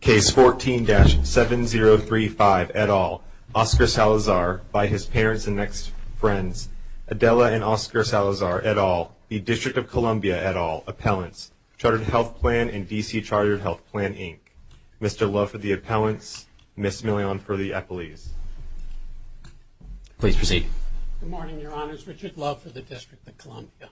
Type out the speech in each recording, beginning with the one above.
Case 14-7035, et al., Oscar Salazar, by his parents and next friends, Adela and Oscar Salazar, et al., the District of Columbia, et al., appellants, Chartered Health Plan and DC Chartered Health Plan, Inc. Mr. Love for the appellants, Ms. Millon for the appellees. Please proceed. Good morning, Your Honors. Richard Love for the District of Columbia.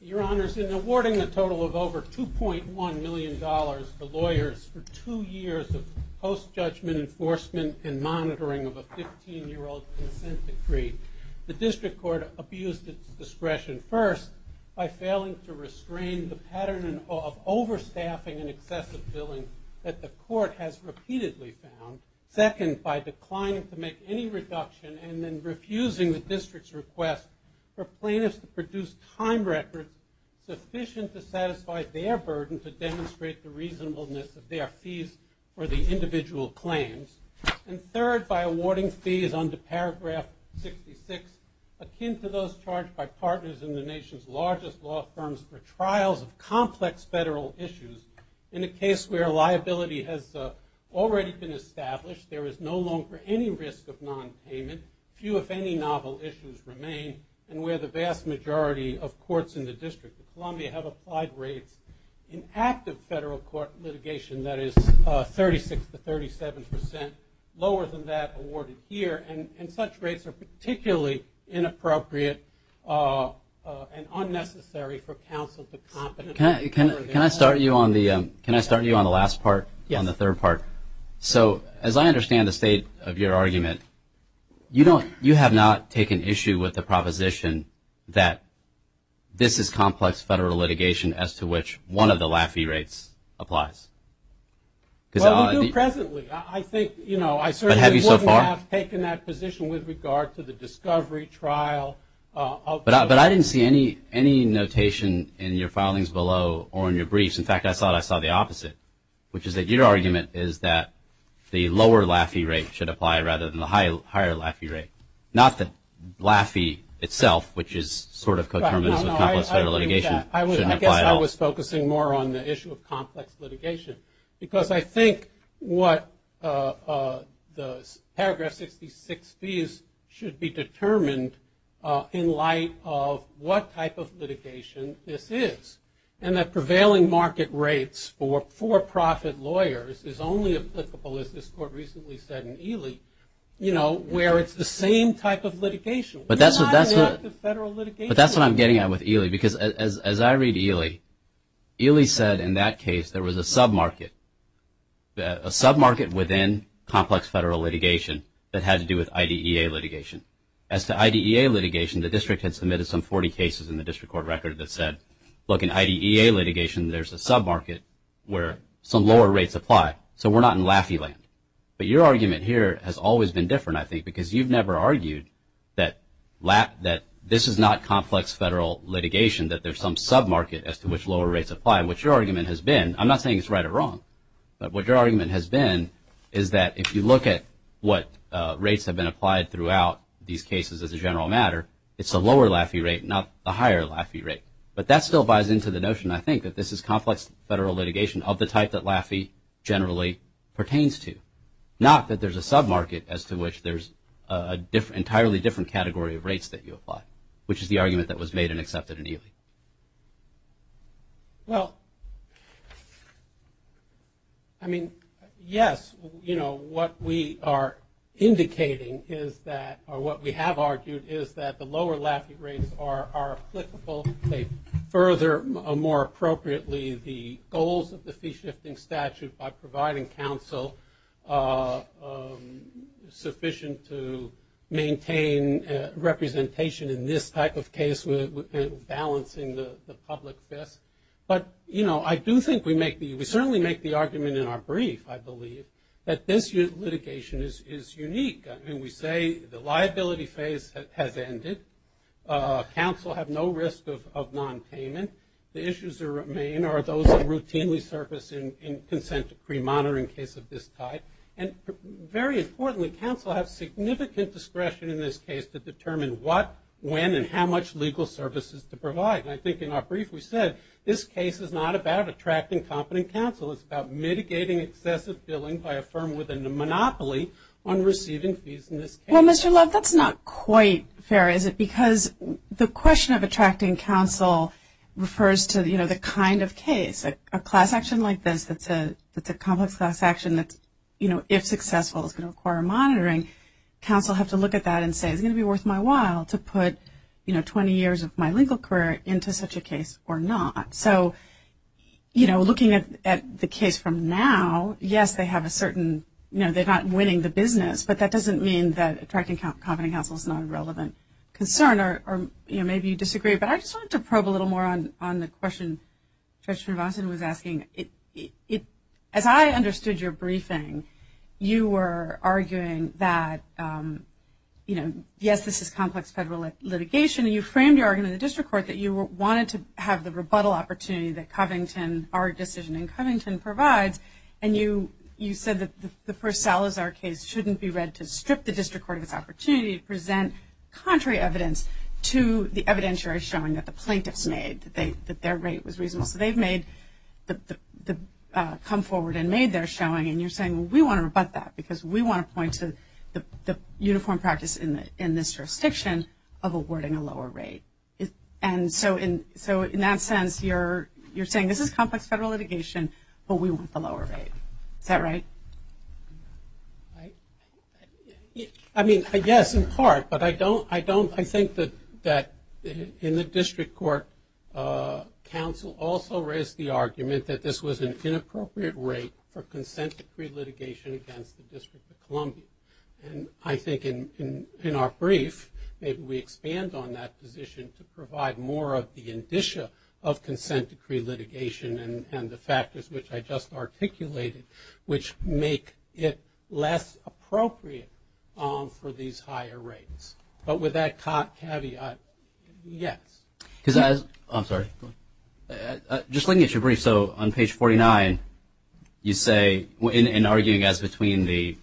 Your Honors, in awarding a total of over $2.1 million to lawyers for two years of post-judgment enforcement and monitoring of a 15-year-old's consent decree, the District Court abused its discretion, first, by failing to restrain the pattern of overstaffing and excessive billing that the Court has repeatedly found, second, by declining to make any reduction and then refusing the District's request for plaintiffs to produce time records sufficient to satisfy their burden to demonstrate the reasonableness of their fees for the individual claims, and third, by awarding fees under Paragraph 66 akin to those charged by partners in the nation's largest law firms for trials of complex federal issues in a case where liability has already been established, there is no longer any risk of nonpayment, few, if any, novel issues remain, and where the vast majority of courts in the District of Columbia have applied rates in active federal court litigation that is 36 to 37 percent lower than that awarded here, and such rates are particularly inappropriate and unnecessary for counsel to compensate. Can I start you on the last part? Yes. On the third part. So as I understand the state of your argument, you have not taken issue with the proposition that this is complex federal litigation as to which one of the Laffey rates applies. Well, we do presently. I think, you know, I certainly wouldn't have taken that position with regard to the discovery trial. But I didn't see any notation in your filings below or in your briefs. In fact, I thought I saw the opposite, which is that your argument is that the lower Laffey rate should apply rather than the higher Laffey rate, not that Laffey itself, which is sort of coterminous with complex federal litigation, shouldn't apply at all. I guess I was focusing more on the issue of complex litigation, because I think what the paragraph 66B should be determined in light of what type of litigation this is, and that prevailing market rates for for-profit lawyers is only applicable, as this court recently said in Ely, you know, where it's the same type of litigation. But that's what I'm getting at with Ely. Because as I read Ely, Ely said in that case there was a sub-market, a sub-market within complex federal litigation that had to do with IDEA litigation. As to IDEA litigation, the district had submitted some 40 cases in the district court record that said, look, in IDEA litigation there's a sub-market where some lower rates apply, so we're not in Laffey land. But your argument here has always been different, I think, because you've never argued that this is not complex federal litigation, that there's some sub-market as to which lower rates apply. And what your argument has been, I'm not saying it's right or wrong, but what your argument has been is that if you look at what rates have been applied throughout these cases as a general matter, it's the lower Laffey rate, not the higher Laffey rate. But that still buys into the notion, I think, that this is complex federal litigation of the type that Laffey generally pertains to, not that there's a sub-market as to which there's an entirely different category of rates that you apply, which is the argument that was made and accepted in Ely. Well, I mean, yes, you know, what we are indicating is that, or what we have argued is that the lower Laffey rates are applicable, they further more appropriately the goals of the fee-shifting statute by providing counsel sufficient to maintain representation in this type of case, with balancing the public fist. But, you know, I do think we make the, we certainly make the argument in our brief, I believe, that this litigation is unique. I mean, we say the liability phase has ended. Counsel have no risk of nonpayment. The issues that remain are those that routinely surface in consent decree monitoring case of this type. And very importantly, counsel have significant discretion in this case to determine what, when, and how much legal services to provide. And I think in our brief we said this case is not about attracting competent counsel, it's about mitigating excessive billing by a firm within the monopoly on receiving fees in this case. Well, Mr. Laff, that's not quite fair, is it? Because the question of attracting counsel refers to, you know, the kind of case. A class action like this that's a complex class action that's, you know, if successful is going to require monitoring, counsel have to look at that and say, it's going to be worth my while to put, you know, 20 years of my legal career into such a case or not. So, you know, looking at the case from now, yes, they have a certain, you know, they're not winning the business, but that doesn't mean that attracting competent counsel is not a relevant concern or, you know, maybe you disagree. But I just wanted to probe a little more on the question Judge Finvason was asking. As I understood your briefing, you were arguing that, you know, yes, this is complex federal litigation. You framed your argument in the district court that you wanted to have the rebuttal opportunity that Covington, our decision in Covington, provides. And you said that the Purcell, as our case, shouldn't be read to strip the district court of its opportunity to present contrary evidence to the evidence you're showing that the plaintiffs made, that their rate was reasonable. So they've come forward and made their showing. And you're saying, well, we want to rebut that because we want to point to the uniform practice in this jurisdiction of awarding a lower rate. And so in that sense, you're saying this is complex federal litigation, but we want the lower rate. Is that right? I mean, yes, in part, but I think that in the district court, counsel also raised the argument that this was an inappropriate rate for consent to pre-litigation against the District of Columbia. And I think in our brief, maybe we expand on that position to provide more of the indicia of consent to pre-litigation and the factors which I just articulated, which make it less appropriate for these higher rates. But with that caveat, yes. Just looking at your brief, so on page 49, you say, in arguing as between the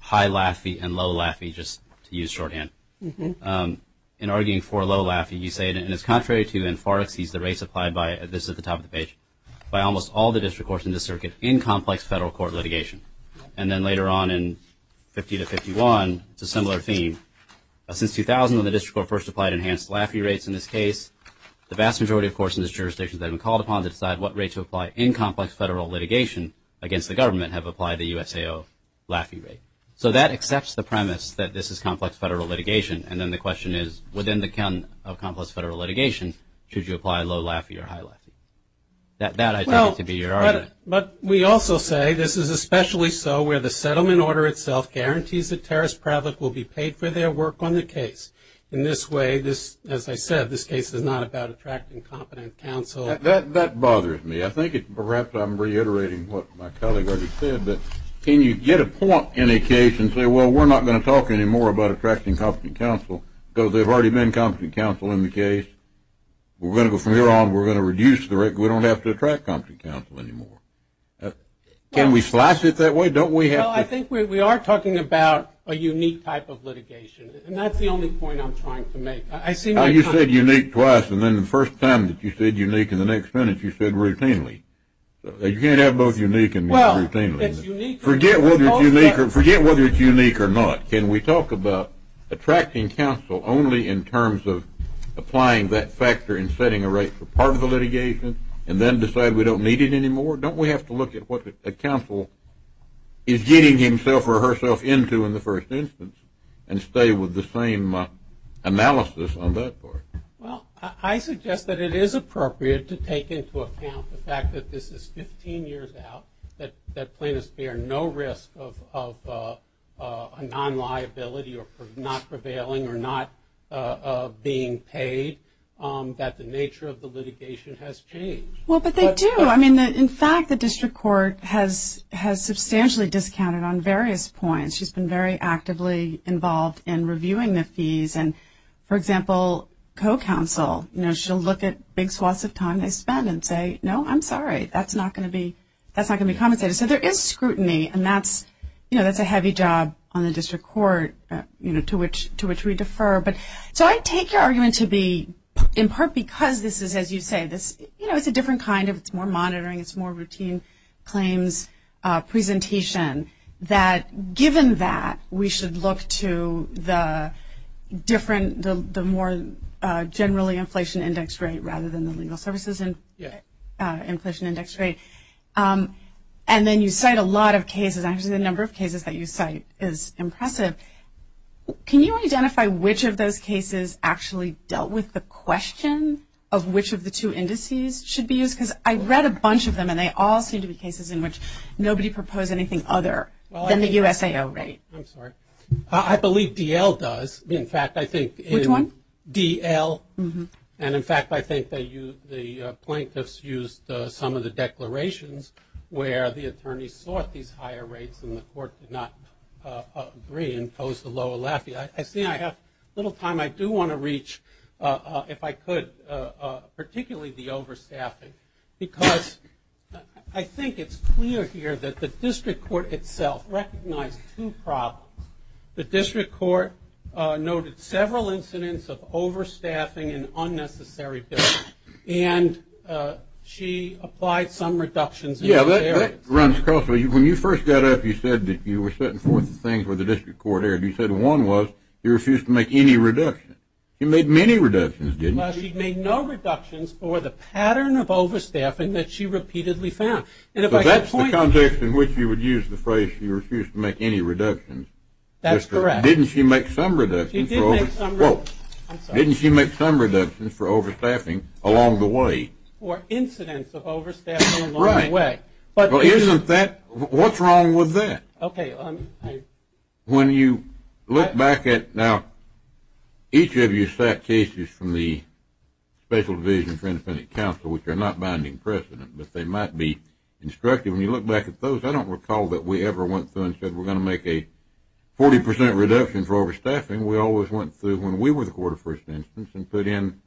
high LAFI and low LAFI, just to use shorthand, in arguing for low LAFI, you say, and it's contrary to and far exceeds the rates applied by, this is at the top of the page, by almost all the district courts in the circuit in complex federal court litigation. And then later on in 50 to 51, it's a similar theme. Since 2000, when the district court first applied enhanced LAFI rates in this case, the vast majority, of course, in this jurisdiction have been called upon to decide what rate to apply in complex federal litigation against the government have applied the USAO LAFI rate. So that accepts the premise that this is complex federal litigation, and then the question is, within the account of complex federal litigation, should you apply low LAFI or high LAFI? That I take it to be your argument. But we also say this is especially so where the settlement order itself guarantees the terrorist public will be paid for their work on the case. In this way, as I said, this case is not about attracting competent counsel. That bothers me. I think perhaps I'm reiterating what my colleague already said. Can you get a point in a case and say, well, we're not going to talk anymore about attracting competent counsel because they've already been competent counsel in the case. We're going to go from here on. We're going to reduce the rate. We don't have to attract competent counsel anymore. Can we slice it that way? Don't we have to? Well, I think we are talking about a unique type of litigation, and that's the only point I'm trying to make. You said unique twice, and then the first time that you said unique in the next minute, you said routinely. You can't have both unique and routinely. Forget whether it's unique or not. Can we talk about attracting counsel only in terms of applying that factor in setting a rate for part of the litigation and then decide we don't need it anymore? Don't we have to look at what the counsel is getting himself or herself into in the first instance and stay with the same analysis on that part? Well, I suggest that it is appropriate to take into account the fact that this is 15 years out, that plaintiffs bear no risk of a non-liability or not prevailing or not being paid, that the nature of the litigation has changed. Well, but they do. I mean, in fact, the district court has substantially discounted on various points. She's been very actively involved in reviewing the fees. And, for example, co-counsel, you know, she'll look at big swaths of time they spend and say, no, I'm sorry, that's not going to be compensated. So there is scrutiny, and that's, you know, that's a heavy job on the district court, you know, to which we defer. So I take your argument to be in part because this is, as you say, this, you know, it's a different kind of, it's more monitoring, it's more routine claims presentation, that given that we should look to the different, the more generally inflation index rate rather than the legal services inflation index rate. And then you cite a lot of cases, actually the number of cases that you cite is impressive. Can you identify which of those cases actually dealt with the question of which of the two indices should be used? Because I read a bunch of them, and they all seem to be cases in which nobody proposed anything other than the USAO rate. I'm sorry. I believe D.L. does. In fact, I think in D.L. And, in fact, I think the plaintiffs used some of the declarations where the attorneys sought these higher rates and the court did not agree and imposed the law of Lafayette. I see I have a little time. I do want to reach, if I could, particularly the overstaffing, because I think it's clear here that the district court itself recognized two problems. The district court noted several incidents of overstaffing and unnecessary billing, and she applied some reductions. Yeah, that runs across. When you first got up, you said that you were setting forth the things where the district court erred. You said one was you refused to make any reductions. You made many reductions, didn't you? Well, she made no reductions for the pattern of overstaffing that she repeatedly found. So that's the context in which you would use the phrase she refused to make any reductions. That's correct. Didn't she make some reductions for overstaffing along the way? Or incidents of overstaffing along the way. Right. But isn't that, what's wrong with that? Okay. When you look back at, now, each of you sat cases from the Special Division for Independent Counsel, which are not binding precedent, but they might be instructive. When you look back at those, I don't recall that we ever went through and said, we're going to make a 40% reduction for overstaffing. We always went through when we were the court of first instance and put in,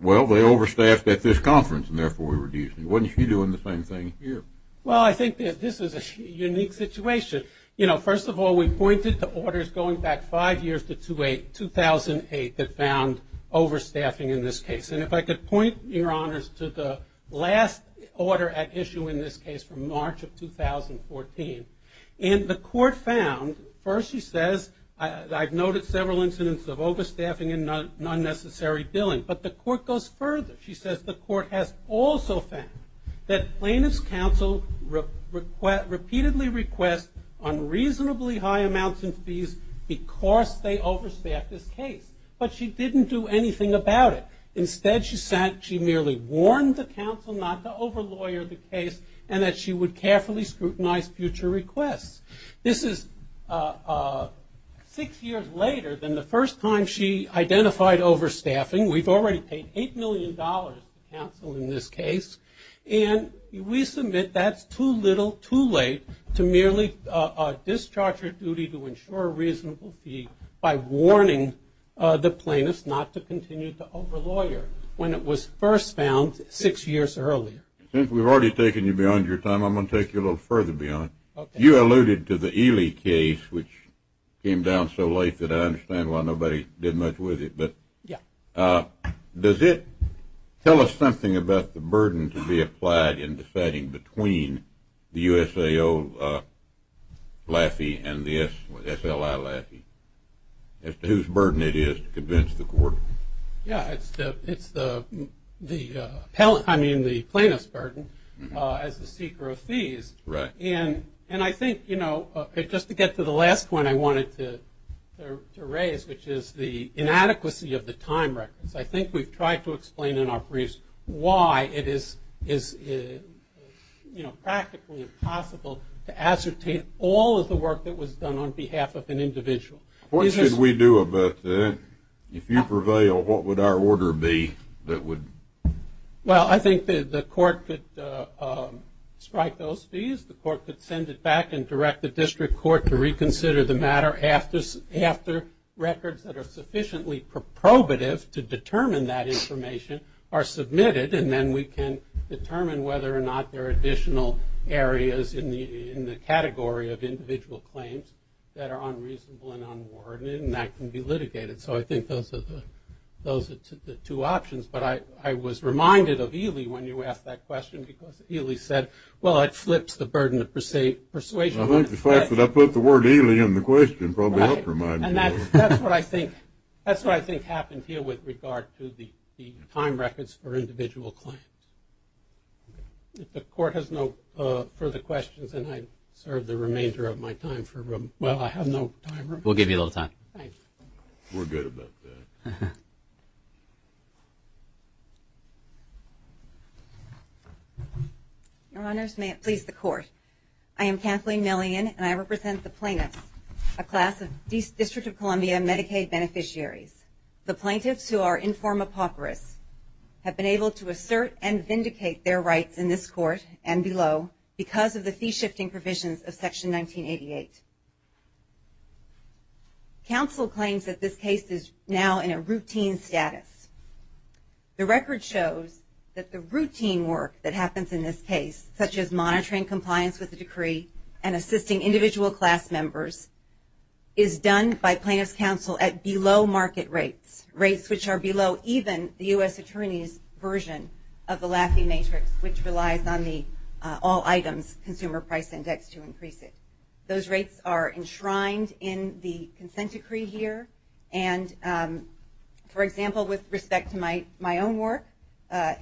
well, they overstaffed at this conference, and therefore we reduced it. Wasn't she doing the same thing here? Well, I think this is a unique situation. You know, first of all, we pointed to orders going back five years to 2008 that found overstaffing in this case. And if I could point, Your Honors, to the last order at issue in this case from March of 2014. And the court found, first she says, I've noted several incidents of overstaffing and unnecessary billing. But the court goes further. She says the court has also found that plaintiff's counsel repeatedly requests unreasonably high amounts of fees because they overstaffed this case. But she didn't do anything about it. Instead, she merely warned the counsel not to over-lawyer the case and that she would carefully scrutinize future requests. This is six years later than the first time she identified overstaffing. We've already paid $8 million to counsel in this case. And we submit that's too little too late to merely discharge her duty to ensure a reasonable fee by warning the plaintiff not to continue to over-lawyer when it was first found six years earlier. Since we've already taken you beyond your time, I'm going to take you a little further beyond. You alluded to the Ely case, which came down so late that I understand why nobody did much with it. But does it tell us something about the burden to be applied in deciding between the USAO Laffey and the SLI Laffey as to whose burden it is to convince the court? Yeah, it's the plaintiff's burden as the seeker of fees. Right. And I think, you know, just to get to the last point I wanted to raise, which is the inadequacy of the time records. I think we've tried to explain in our briefs why it is, you know, practically impossible to ascertain all of the work that was done on behalf of an individual. What should we do about that? If you prevail, what would our order be that would? Well, I think the court could strike those fees. The court could send it back and direct the district court to reconsider the matter after records that are sufficiently probative to determine that information are submitted, and then we can determine whether or not there are additional areas in the category of individual claims that are unreasonable and unwarranted, and that can be litigated. So I think those are the two options. But I was reminded of Ely when you asked that question because Ely said, well, it flips the burden of persuasion. I think the fact that I put the word Ely in the question probably helped remind me. Right. And that's what I think happened here with regard to the time records for individual claims. If the court has no further questions, then I serve the remainder of my time. Well, I have no time. We'll give you a little time. Thank you. We're good about that. Your Honors, may it please the Court. I am Kathleen Millian, and I represent the plaintiffs, a class of District of Columbia Medicaid beneficiaries. The plaintiffs who are in form apocryphal have been able to assert and vindicate their rights in this Court and below because of the fee-shifting provisions of Section 1988. Counsel claims that this case is now in a routine status. The record shows that the routine work that happens in this case, such as monitoring compliance with the decree and assisting individual class members, is done by plaintiffs' counsel at below market rates, rates which are below even the U.S. Attorney's version of the Laffey Matrix, which relies on the All Items Consumer Price Index to increase it. Those rates are enshrined in the consent decree here. And, for example, with respect to my own work,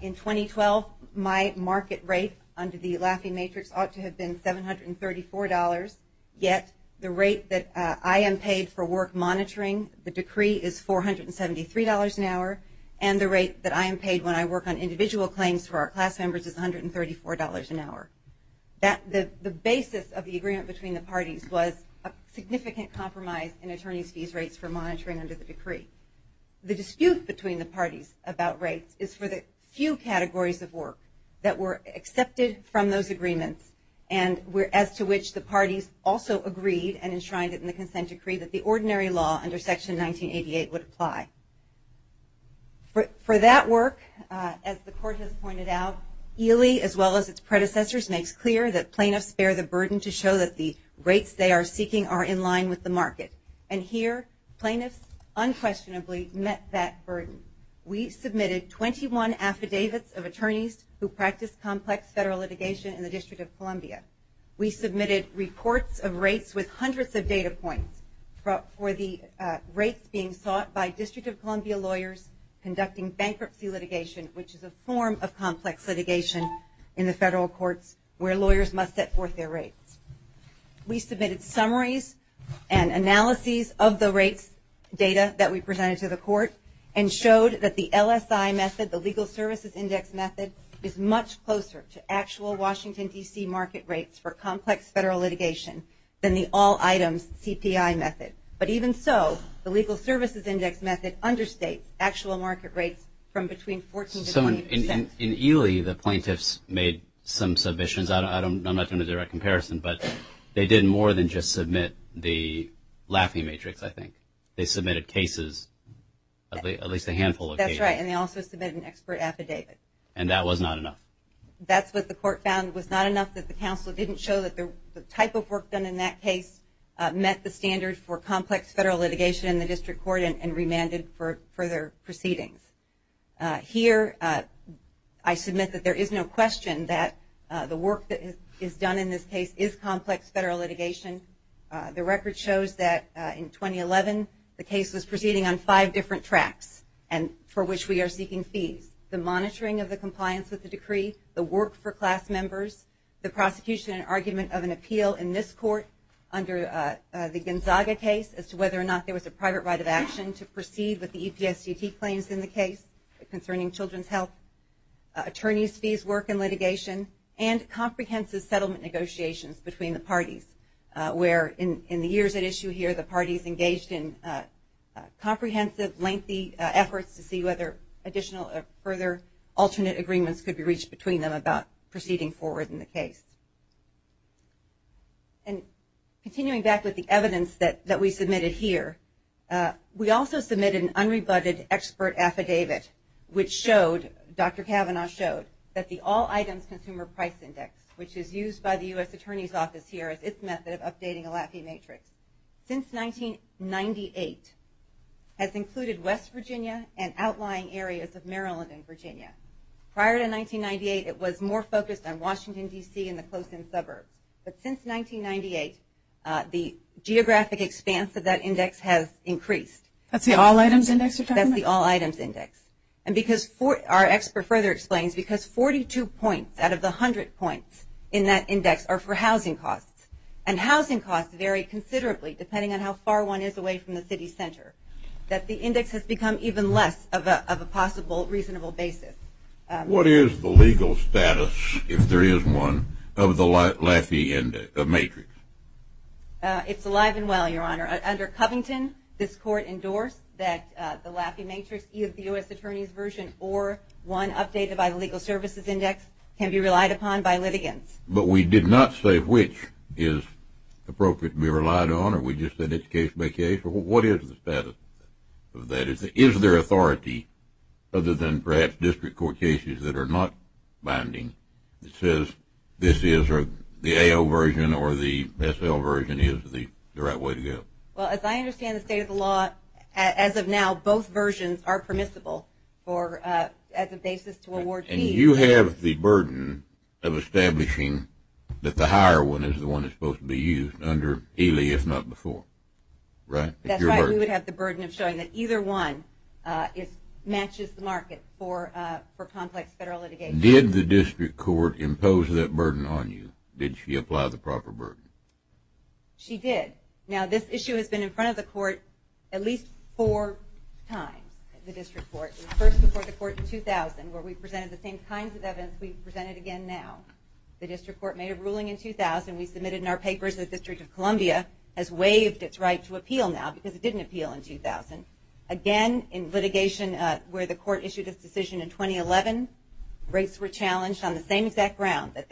in 2012, my market rate under the Laffey Matrix ought to have been $734, yet the rate that I am paid for work monitoring the decree is $473 an hour, and the rate that I am paid when I work on individual claims for our class members is $134 an hour. The basis of the agreement between the parties was a significant compromise in attorneys' fees rates for monitoring under the decree. The dispute between the parties about rates is for the few categories of work that were accepted from those agreements and as to which the parties also agreed and enshrined it in the consent decree that the ordinary law under Section 1988 would apply. For that work, as the court has pointed out, Ely, as well as its predecessors, makes clear that plaintiffs bear the burden to show that the rates they are seeking are in line with the market. And here, plaintiffs unquestionably met that burden. We submitted 21 affidavits of attorneys who practice complex federal litigation in the District of Columbia. We submitted reports of rates with hundreds of data points for the rates being sought by District of Columbia lawyers conducting bankruptcy litigation, which is a form of complex litigation in the federal courts where lawyers must set forth their rates. We submitted summaries and analyses of the rates data that we presented to the court and showed that the LSI method, the Legal Services Index method, is much closer to actual Washington, D.C. market rates for complex federal litigation than the all-items CPI method. But even so, the Legal Services Index method understates actual market rates from between 14 to 18 percent. In Ely, the plaintiffs made some submissions. I'm not doing a direct comparison, but they did more than just submit the laughing matrix, I think. They submitted cases, at least a handful of cases. That's right, and they also submitted an expert affidavit. And that was not enough. That's what the court found was not enough, that the counsel didn't show that the type of work done in that case met the standard for complex federal litigation in the district court and remanded for further proceedings. Here, I submit that there is no question that the work that is done in this case is complex federal litigation. The record shows that in 2011, the case was proceeding on five different tracks for which we are seeking fees. The monitoring of the compliance with the decree, the work for class members, the prosecution and argument of an appeal in this court under the Gonzaga case as to whether or not there was a private right of action to proceed with the EPSDT claims in the case concerning children's health, attorneys' fees, work, and litigation, and comprehensive settlement negotiations between the parties where, in the years at issue here, the parties engaged in comprehensive, lengthy efforts to see whether additional or further alternate agreements could be reached between them about proceeding forward in the case. And continuing back with the evidence that we submitted here, we also submitted an unrebutted expert affidavit, which showed, Dr. Kavanaugh showed, that the All Items Consumer Price Index, which is used by the U.S. Attorney's Office here as its method of updating a LAPI matrix, since 1998 has included West Virginia and outlying areas of Maryland and Virginia. Prior to 1998, it was more focused on Washington, D.C. and the close-in suburbs. But since 1998, the geographic expanse of that index has increased. That's the All Items Index you're talking about? That's the All Items Index. And because our expert further explains, because 42 points out of the 100 points in that index are for housing costs, and housing costs vary considerably depending on how far one is away from the city center, that the index has become even less of a possible reasonable basis. What is the legal status, if there is one, of the LAPI matrix? It's alive and well, Your Honor. Under Covington, this Court endorsed that the LAPI matrix, either the U.S. Attorney's version or one updated by the Legal Services Index, can be relied upon by litigants. But we did not say which is appropriate to be relied on, or we just said it's case by case. What is the status of that? Is there authority, other than perhaps district court cases that are not binding, that says this is the AO version or the SL version is the right way to go? Well, as I understand the state of the law, as of now, both versions are permissible as a basis to award fees. And you have the burden of establishing that the higher one is the one that's supposed to be used under ELE, if not before, right? That's right. We would have the burden of showing that either one matches the market for complex federal litigation. Did the district court impose that burden on you? Did she apply the proper burden? She did. Now, this issue has been in front of the court at least four times, the district court. It was first before the court in 2000, where we presented the same kinds of evidence we've presented again now. The district court made a ruling in 2000. We submitted in our papers that the District of Columbia has waived its right to appeal now because it didn't appeal in 2000. Again, in litigation where the court issued its decision in 2011, rates were challenged on the same exact ground, that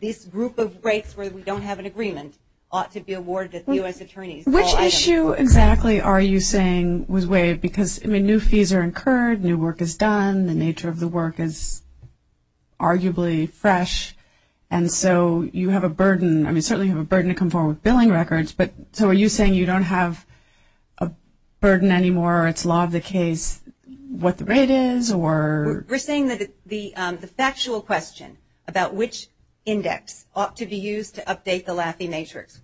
this group of rates where we don't have an agreement ought to be awarded to U.S. attorneys. Which issue exactly are you saying was waived? Because, I mean, new fees are incurred, new work is done, the nature of the work is arguably fresh, and so you have a burden. I mean, certainly you have a burden to come forward with billing records, but so are you saying you don't have a burden anymore or it's law of the case what the rate is or? We're saying that the factual question about which index ought to be used to update the Laffey matrix,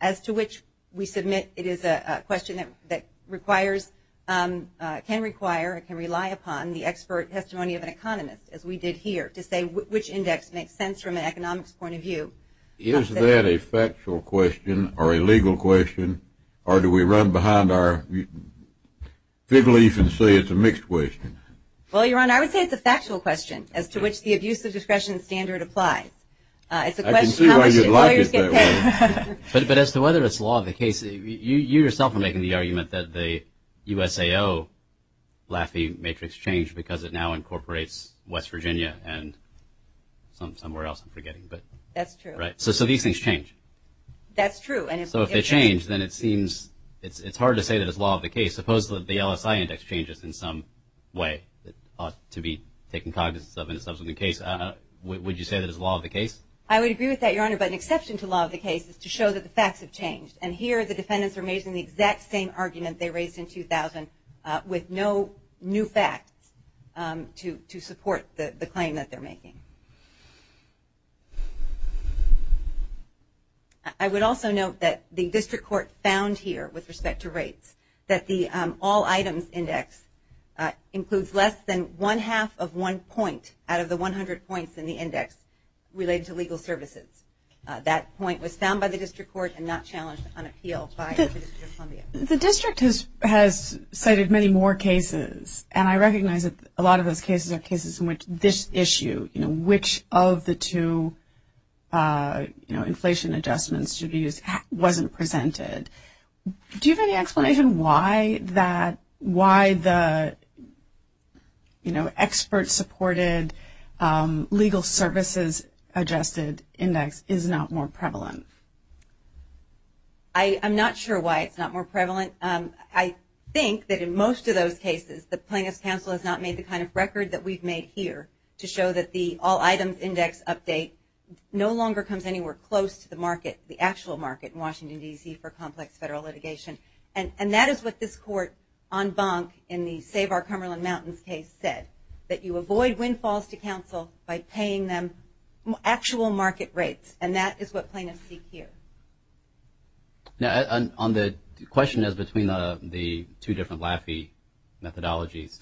as to which we submit it is a question that requires, can require, and can rely upon the expert testimony of an economist, as we did here, to say which index makes sense from an economics point of view. Is that a factual question or a legal question, or do we run behind our fig leaf and say it's a mixed question? Well, Your Honor, I would say it's a factual question, as to which the abusive discretion standard applies. I can see why you'd like it that way. But as to whether it's law of the case, you yourself are making the argument that the USAO Laffey matrix changed because it now incorporates West Virginia and somewhere else, I'm forgetting. That's true. So these things change. That's true. So if they change, then it seems, it's hard to say that it's law of the case. Suppose that the LSI index changes in some way that ought to be taken cognizance of in a subsequent case. Would you say that it's law of the case? I would agree with that, Your Honor, but an exception to law of the case is to show that the facts have changed. And here the defendants are making the exact same argument they raised in 2000 with no new facts to support the claim that they're making. I would also note that the district court found here, with respect to rates, that the all items index includes less than one-half of one point out of the 100 points in the index related to legal services. That point was found by the district court and not challenged on appeal by the District of Columbia. The district has cited many more cases, and I recognize that a lot of those cases are cases in which this issue, which of the two inflation adjustments should be used, wasn't presented. Do you have any explanation why the expert-supported legal services adjusted index is not more prevalent? I'm not sure why it's not more prevalent. I think that in most of those cases the plaintiff's counsel has not made the kind of record that we've made here to show that the all items index update no longer comes anywhere close to the market, the actual market in Washington, D.C., for complex federal litigation. And that is what this court, en banc, in the Save Our Cumberland Mountains case said, that you avoid windfalls to counsel by paying them actual market rates. And that is what plaintiffs seek here. Now, the question is between the two different Laffey methodologies.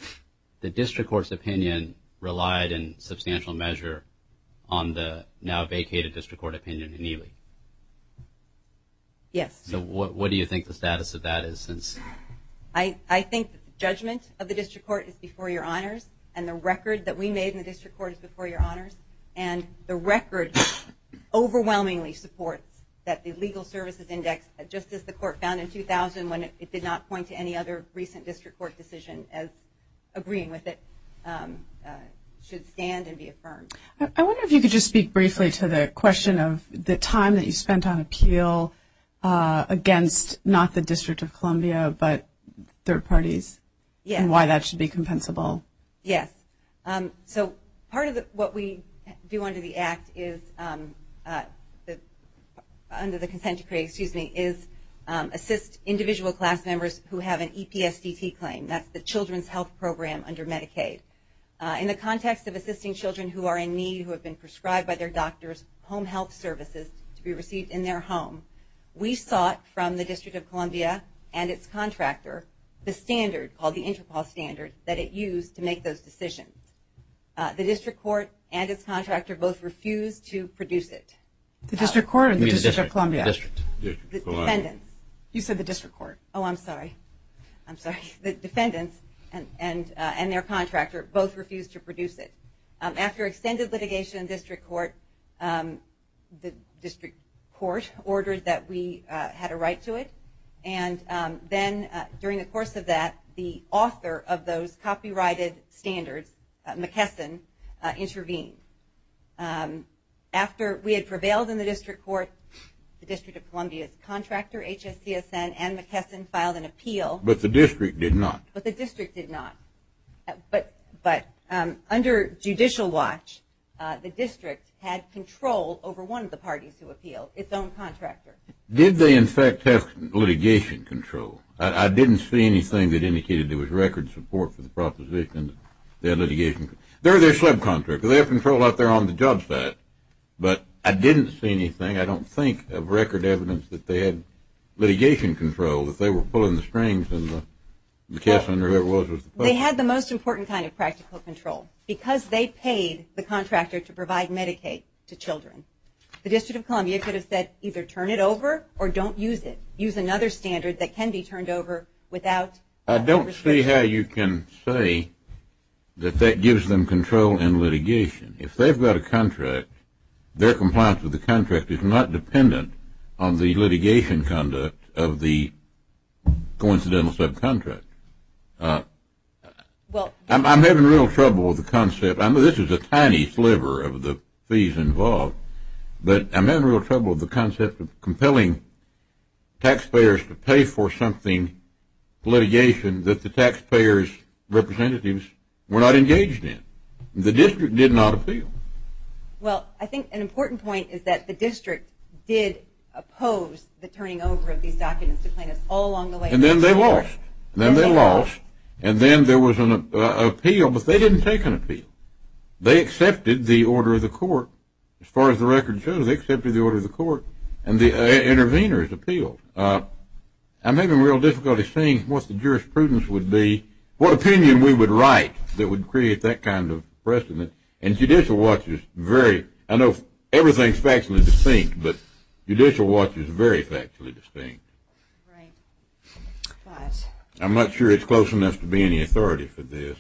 The district court's opinion relied in substantial measure on the now vacated district court opinion in Neely. Yes. So what do you think the status of that is? I think the judgment of the district court is before your honors, and the record that we made in the district court is before your honors. And the record overwhelmingly supports that the legal services index, just as the court found in 2000 when it did not point to any other recent district court decision as agreeing with it, should stand and be affirmed. I wonder if you could just speak briefly to the question of the time that you spent on appeal against, not the District of Columbia, but third parties and why that should be compensable. Yes. So part of what we do under the act is, under the consent decree, excuse me, is assist individual class members who have an EPSDT claim. That's the Children's Health Program under Medicaid. In the context of assisting children who are in need, who have been prescribed by their doctors, home health services to be received in their home, we sought from the District of Columbia and its contractor, the standard, called the Interpol standard, that it used to make those decisions. The district court and its contractor both refused to produce it. The district court or the District of Columbia? The defendants. You said the district court. Oh, I'm sorry. I'm sorry. The defendants and their contractor both refused to produce it. After extended litigation in district court, the district court ordered that we had a right to it. And then during the course of that, the author of those copyrighted standards, McKesson, intervened. After we had prevailed in the district court, the District of Columbia's contractor, HSCSN, and McKesson filed an appeal. But the district did not. But the district did not. But under judicial watch, the district had control over one of the parties who appealed, its own contractor. Did they, in fact, have litigation control? I didn't see anything that indicated there was record support for the proposition. They had litigation control. They're their subcontractor. They have control out there on the job site. But I didn't see anything, I don't think, of record evidence that they had litigation control, that they were pulling the strings and McKesson or whoever it was. They had the most important kind of practical control. Because they paid the contractor to provide Medicaid to children, the District of Columbia could have said either turn it over or don't use it. Use another standard that can be turned over without litigation. I don't see how you can say that that gives them control in litigation. If they've got a contract, their compliance with the contract is not dependent on the litigation conduct of the coincidental subcontractor. I'm having real trouble with the concept. I know this is a tiny sliver of the fees involved, but I'm having real trouble with the concept of compelling taxpayers to pay for something, litigation, that the taxpayers' representatives were not engaged in. The district did not appeal. Well, I think an important point is that the district did oppose the turning over of these documents to plaintiffs all along the way. And then they lost. And then they lost. They accepted the order of the court. As far as the record shows, they accepted the order of the court. And the interveners appealed. I'm having real difficulty seeing what the jurisprudence would be, what opinion we would write that would create that kind of precedent. And Judicial Watch is very – I know everything is factually distinct, but Judicial Watch is very factually distinct. Right. I'm not sure it's close enough to be any authority for this.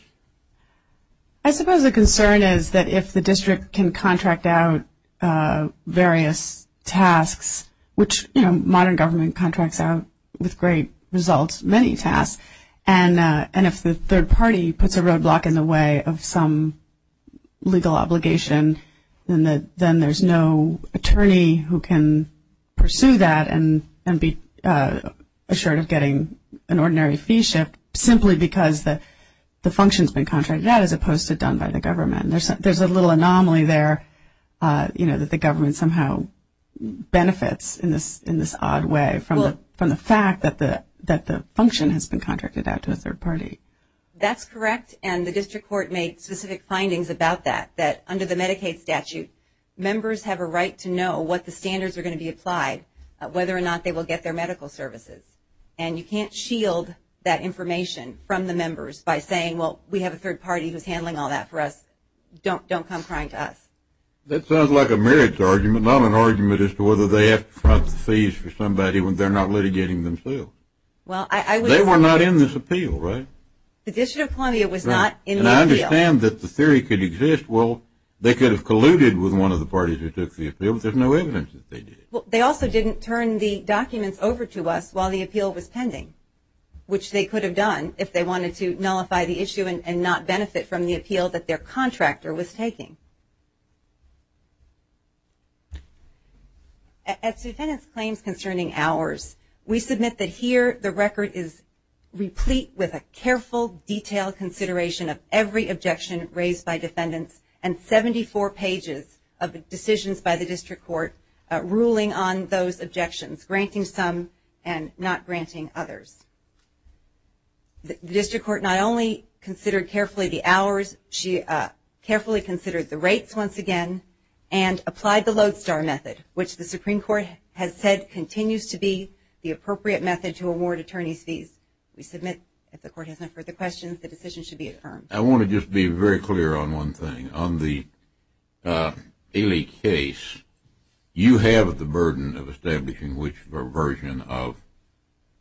I suppose the concern is that if the district can contract out various tasks, which modern government contracts out with great results many tasks, and if the third party puts a roadblock in the way of some legal obligation, then there's no attorney who can pursue that and be assured of getting an ordinary fee shift simply because the function has been contracted out, as opposed to done by the government. There's a little anomaly there, you know, that the government somehow benefits in this odd way from the fact that the function has been contracted out to a third party. That's correct, and the district court made specific findings about that, that under the Medicaid statute, members have a right to know what the standards are going to be applied, whether or not they will get their medical services. And you can't shield that information from the members by saying, well, we have a third party who's handling all that for us, don't come crying to us. That sounds like a merits argument, not an argument as to whether they have to front the fees for somebody when they're not litigating themselves. They were not in this appeal, right? The District of Columbia was not in the appeal. And I understand that the theory could exist. Well, they could have colluded with one of the parties who took the appeal, but there's no evidence that they did. They also didn't turn the documents over to us while the appeal was pending, which they could have done if they wanted to nullify the issue and not benefit from the appeal that their contractor was taking. As to defendant's claims concerning ours, we submit that here the record is replete with a careful, detailed consideration of every objection raised by defendants and 74 pages of decisions by the district court ruling on those objections, granting some and not granting others. The district court not only considered carefully the hours, she carefully considered the rates once again, and applied the lodestar method, which the Supreme Court has said continues to be the appropriate method to award attorney's fees. We submit if the court has no further questions, the decision should be affirmed. I want to just be very clear on one thing. On the Ailey case, you have the burden of establishing which version of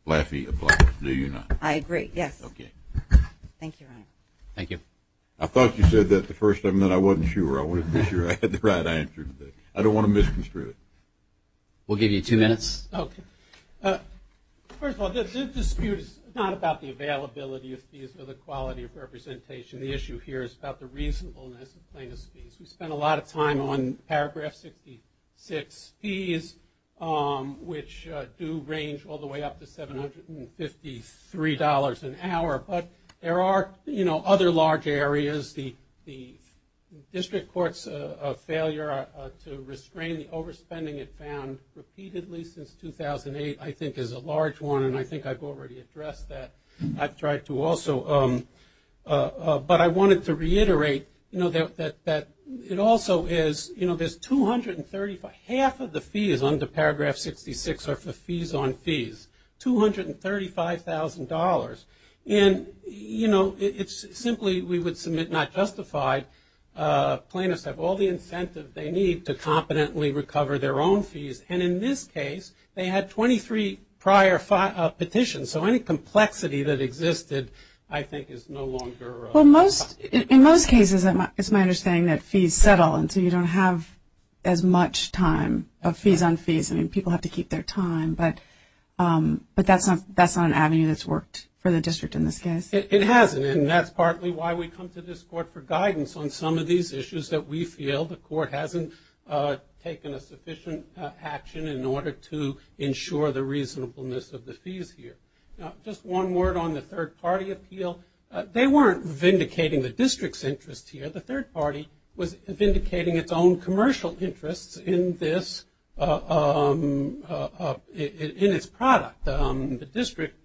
Laffey applies, do you not? I agree, yes. Okay. Thank you, Your Honor. Thank you. I thought you said that the first time, then I wasn't sure. I wanted to make sure I had the right answer today. I don't want to misconstrue it. We'll give you two minutes. Okay. First of all, this dispute is not about the availability of fees or the quality of representation. The issue here is about the reasonableness of plaintiff's fees. We spent a lot of time on paragraph 66 fees, which do range all the way up to $753 an hour. But there are, you know, other large areas. The district court's failure to restrain the overspending it found repeatedly since 2008, I think, is a large one. And I think I've already addressed that. I've tried to also. But I wanted to reiterate that it also is, you know, there's 235. Half of the fees under paragraph 66 are for fees on fees, $235,000. And, you know, it's simply we would submit not justified. Plaintiffs have all the incentive they need to competently recover their own fees. And in this case, they had 23 prior petitions. So any complexity that existed, I think, is no longer. Well, in most cases, it's my understanding that fees settle until you don't have as much time of fees on fees. I mean, people have to keep their time. But that's not an avenue that's worked for the district in this case. It hasn't. And that's partly why we come to this court for guidance on some of these issues that we feel the court hasn't taken a sufficient action in order to ensure the reasonableness of the fees here. Now, just one word on the third-party appeal. They weren't vindicating the district's interest here. The third party was vindicating its own commercial interests in this, in its product. The district,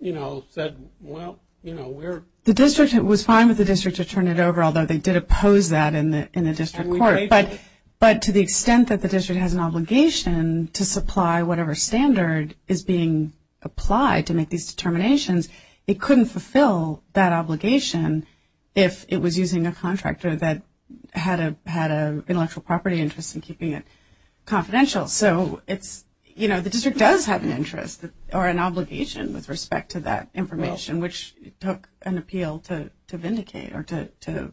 you know, said, well, you know, we're. The district was fine with the district to turn it over, although they did oppose that in the district court. But to the extent that the district has an obligation to supply whatever standard is being applied to make these determinations, it couldn't fulfill that obligation if it was using a contractor that had an intellectual property interest in keeping it confidential. So it's, you know, the district does have an interest or an obligation with respect to that information, which took an appeal to vindicate or to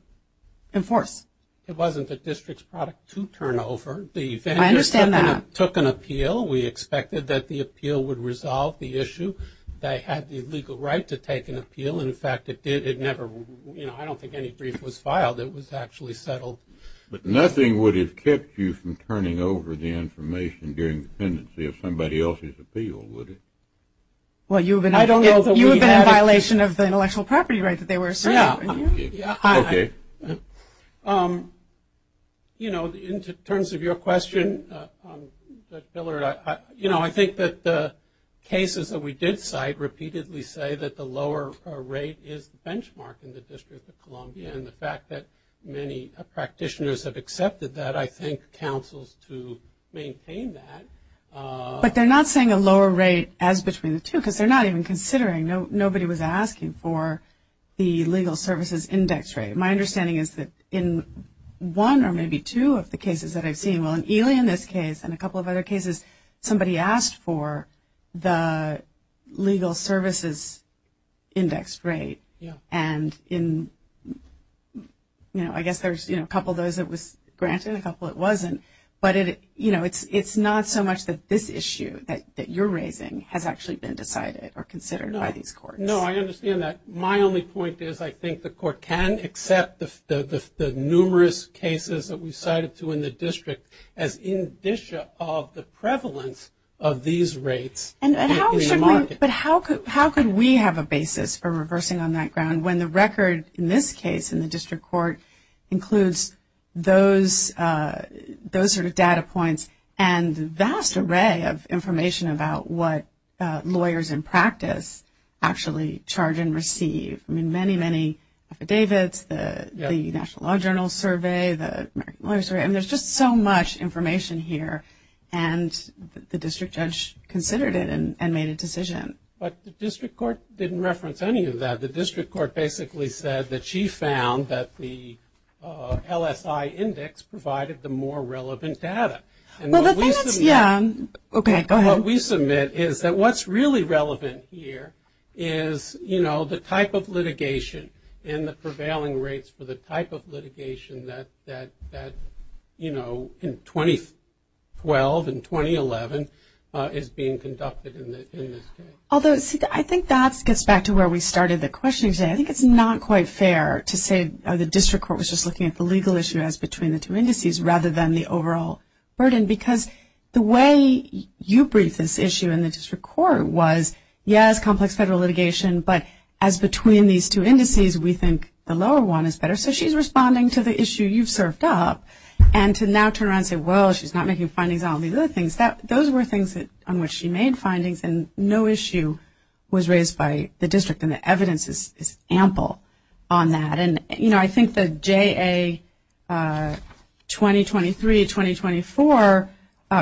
enforce. It wasn't the district's product to turn over. I understand that. The vendors took an appeal. We expected that the appeal would resolve the issue. They had the legal right to take an appeal. In fact, it did. It never, you know, I don't think any brief was filed. It was actually settled. But nothing would have kept you from turning over the information during dependency of somebody else's appeal, would it? Well, you would have been in violation of the intellectual property right that they were asserting. Yeah. Okay. You know, in terms of your question, you know, I think that the cases that we did cite repeatedly say that the lower rate is the benchmark in the District of Columbia. And the fact that many practitioners have accepted that, I think counsels to maintain that. But they're not saying a lower rate as between the two because they're not even considering. Nobody was asking for the legal services index rate. My understanding is that in one or maybe two of the cases that I've seen, well, in Ely in this case and a couple of other cases, somebody asked for the legal services index rate. Yeah. And, you know, I guess there's, you know, a couple of those it was granted, a couple it wasn't. But, you know, it's not so much that this issue that you're raising has actually been decided or considered by these courts. No, I understand that. My only point is I think the court can accept the numerous cases that we cited to in the district as indicia of the prevalence of these rates in the market. But how could we have a basis for reversing on that ground when the record in this case in the district court includes those sort of data points and vast array of information about what lawyers in practice actually charge and receive? I mean, many, many affidavits, the National Law Journal survey, the American Lawyer survey. I mean, there's just so much information here. And the district judge considered it and made a decision. But the district court didn't reference any of that. The district court basically said that she found that the LSI index provided the more relevant data. Well, the thing is, yeah. Okay, go ahead. What we submit is that what's really relevant here is, you know, the type of litigation and the prevailing rates for the type of litigation that, you know, in 2012 and 2011 is being conducted in this case. Although, see, I think that gets back to where we started the question. I think it's not quite fair to say the district court was just looking at the legal issue as between the two indices rather than the overall burden. Because the way you briefed this issue in the district court was, yes, complex federal litigation. But as between these two indices, we think the lower one is better. So she's responding to the issue you've served up. And to now turn around and say, well, she's not making findings on these other things, those were things on which she made findings and no issue was raised by the district. And the evidence is ample on that. And, you know, I think the JA 2023-2024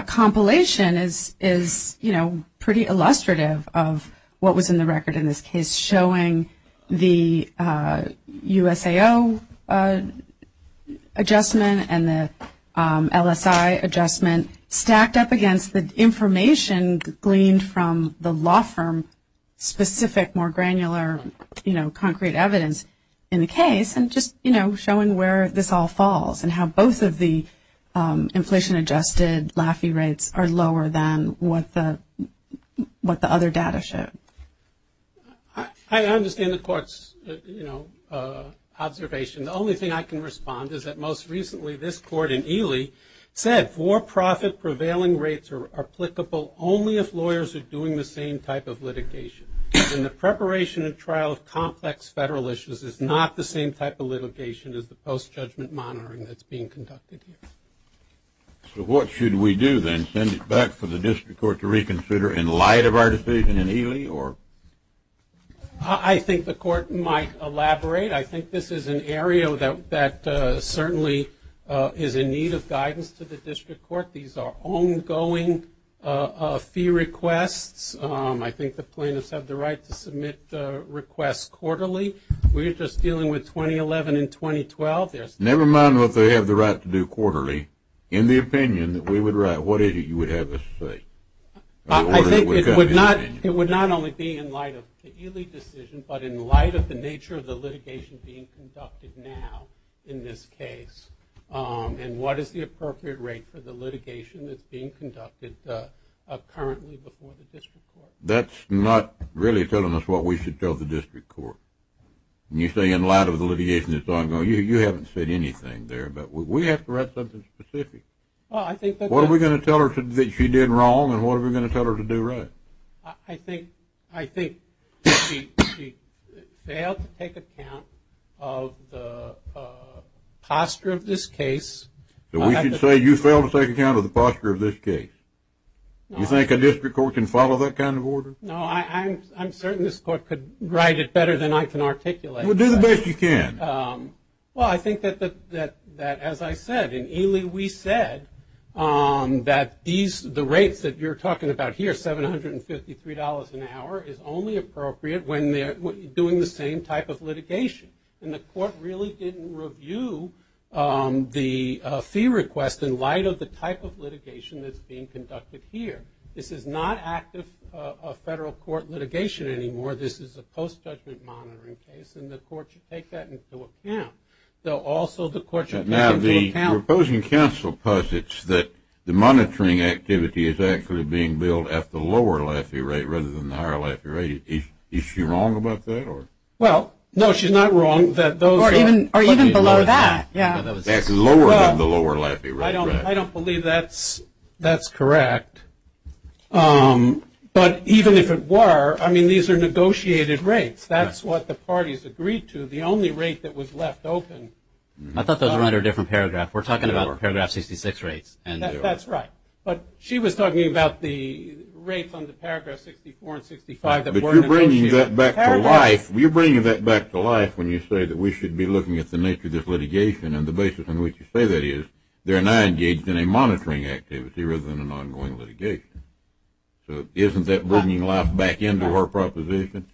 compilation is, you know, pretty illustrative of what was in the record in this case, showing the USAO adjustment and the LSI adjustment stacked up against the information gleaned from the law firm specific, more granular, you know, concrete evidence in the case. And just, you know, showing where this all falls and how both of the inflation-adjusted LAFI rates are lower than what the other data show. I understand the court's, you know, observation. The only thing I can respond is that most recently this court in Ely said for-profit prevailing rates are applicable only if lawyers are doing the same type of litigation. And the preparation and trial of complex federal issues is not the same type of litigation as the post-judgment monitoring that's being conducted here. So what should we do then? Send it back for the district court to reconsider in light of our decision in Ely or? I think the court might elaborate. I think this is an area that certainly is in need of guidance to the district court. These are ongoing fee requests. I think the plaintiffs have the right to submit requests quarterly. We're just dealing with 2011 and 2012. Never mind what they have the right to do quarterly. In the opinion that we would write, what is it you would have us say? I think it would not only be in light of the Ely decision, but in light of the nature of the litigation being conducted now in this case and what is the appropriate rate for the litigation that's being conducted currently before the district court. That's not really telling us what we should tell the district court. When you say in light of the litigation that's ongoing, you haven't said anything there. But we have to write something specific. What are we going to tell her that she did wrong and what are we going to tell her to do right? I think she failed to take account of the posture of this case. We should say you failed to take account of the posture of this case. You think a district court can follow that kind of order? No, I'm certain this court could write it better than I can articulate it. Well, do the best you can. Well, I think that as I said, in Ely we said that the rates that you're talking about here, $753 an hour is only appropriate when they're doing the same type of litigation. And the court really didn't review the fee request in light of the type of litigation that's being conducted here. This is not active federal court litigation anymore. This is a post-judgment monitoring case, and the court should take that into account. Also, the court should take into account. Now, the opposing counsel posits that the monitoring activity is actually being billed at the lower LAFI rate rather than the higher LAFI rate. Is she wrong about that? Well, no, she's not wrong. Or even below that. That's lower than the lower LAFI rate. I don't believe that's correct. But even if it were, I mean, these are negotiated rates. That's what the parties agreed to. The only rate that was left open. I thought those were under a different paragraph. We're talking about Paragraph 66 rates. That's right. But she was talking about the rates under Paragraph 64 and 65 that weren't negotiated. But you're bringing that back to life when you say that we should be looking at the nature of this litigation. And the basis on which you say that is they're now engaged in a monitoring activity rather than an ongoing litigation. So isn't that bringing life back into her proposition?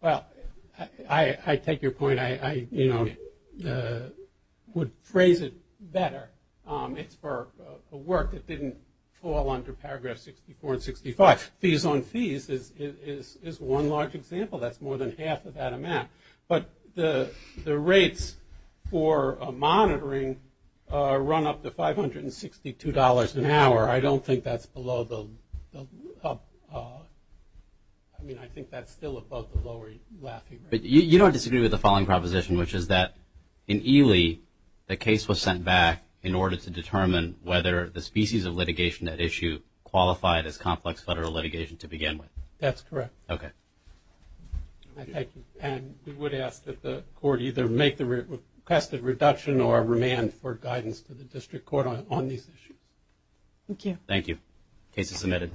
Well, I take your point. I, you know, would phrase it better. It's for a work that didn't fall under Paragraph 64 and 65. Fees on fees is one large example. That's more than half of that amount. But the rates for monitoring run up to $562 an hour. I don't think that's below the, I mean, I think that's still above the lower laughing range. But you don't disagree with the following proposition, which is that in Ely the case was sent back in order to determine whether the species of litigation at issue qualified as complex federal litigation to begin with. That's correct. Okay. Thank you. And we would ask that the court either make the requested reduction or remand for guidance to the district court on these issues. Thank you. Thank you. Case is submitted.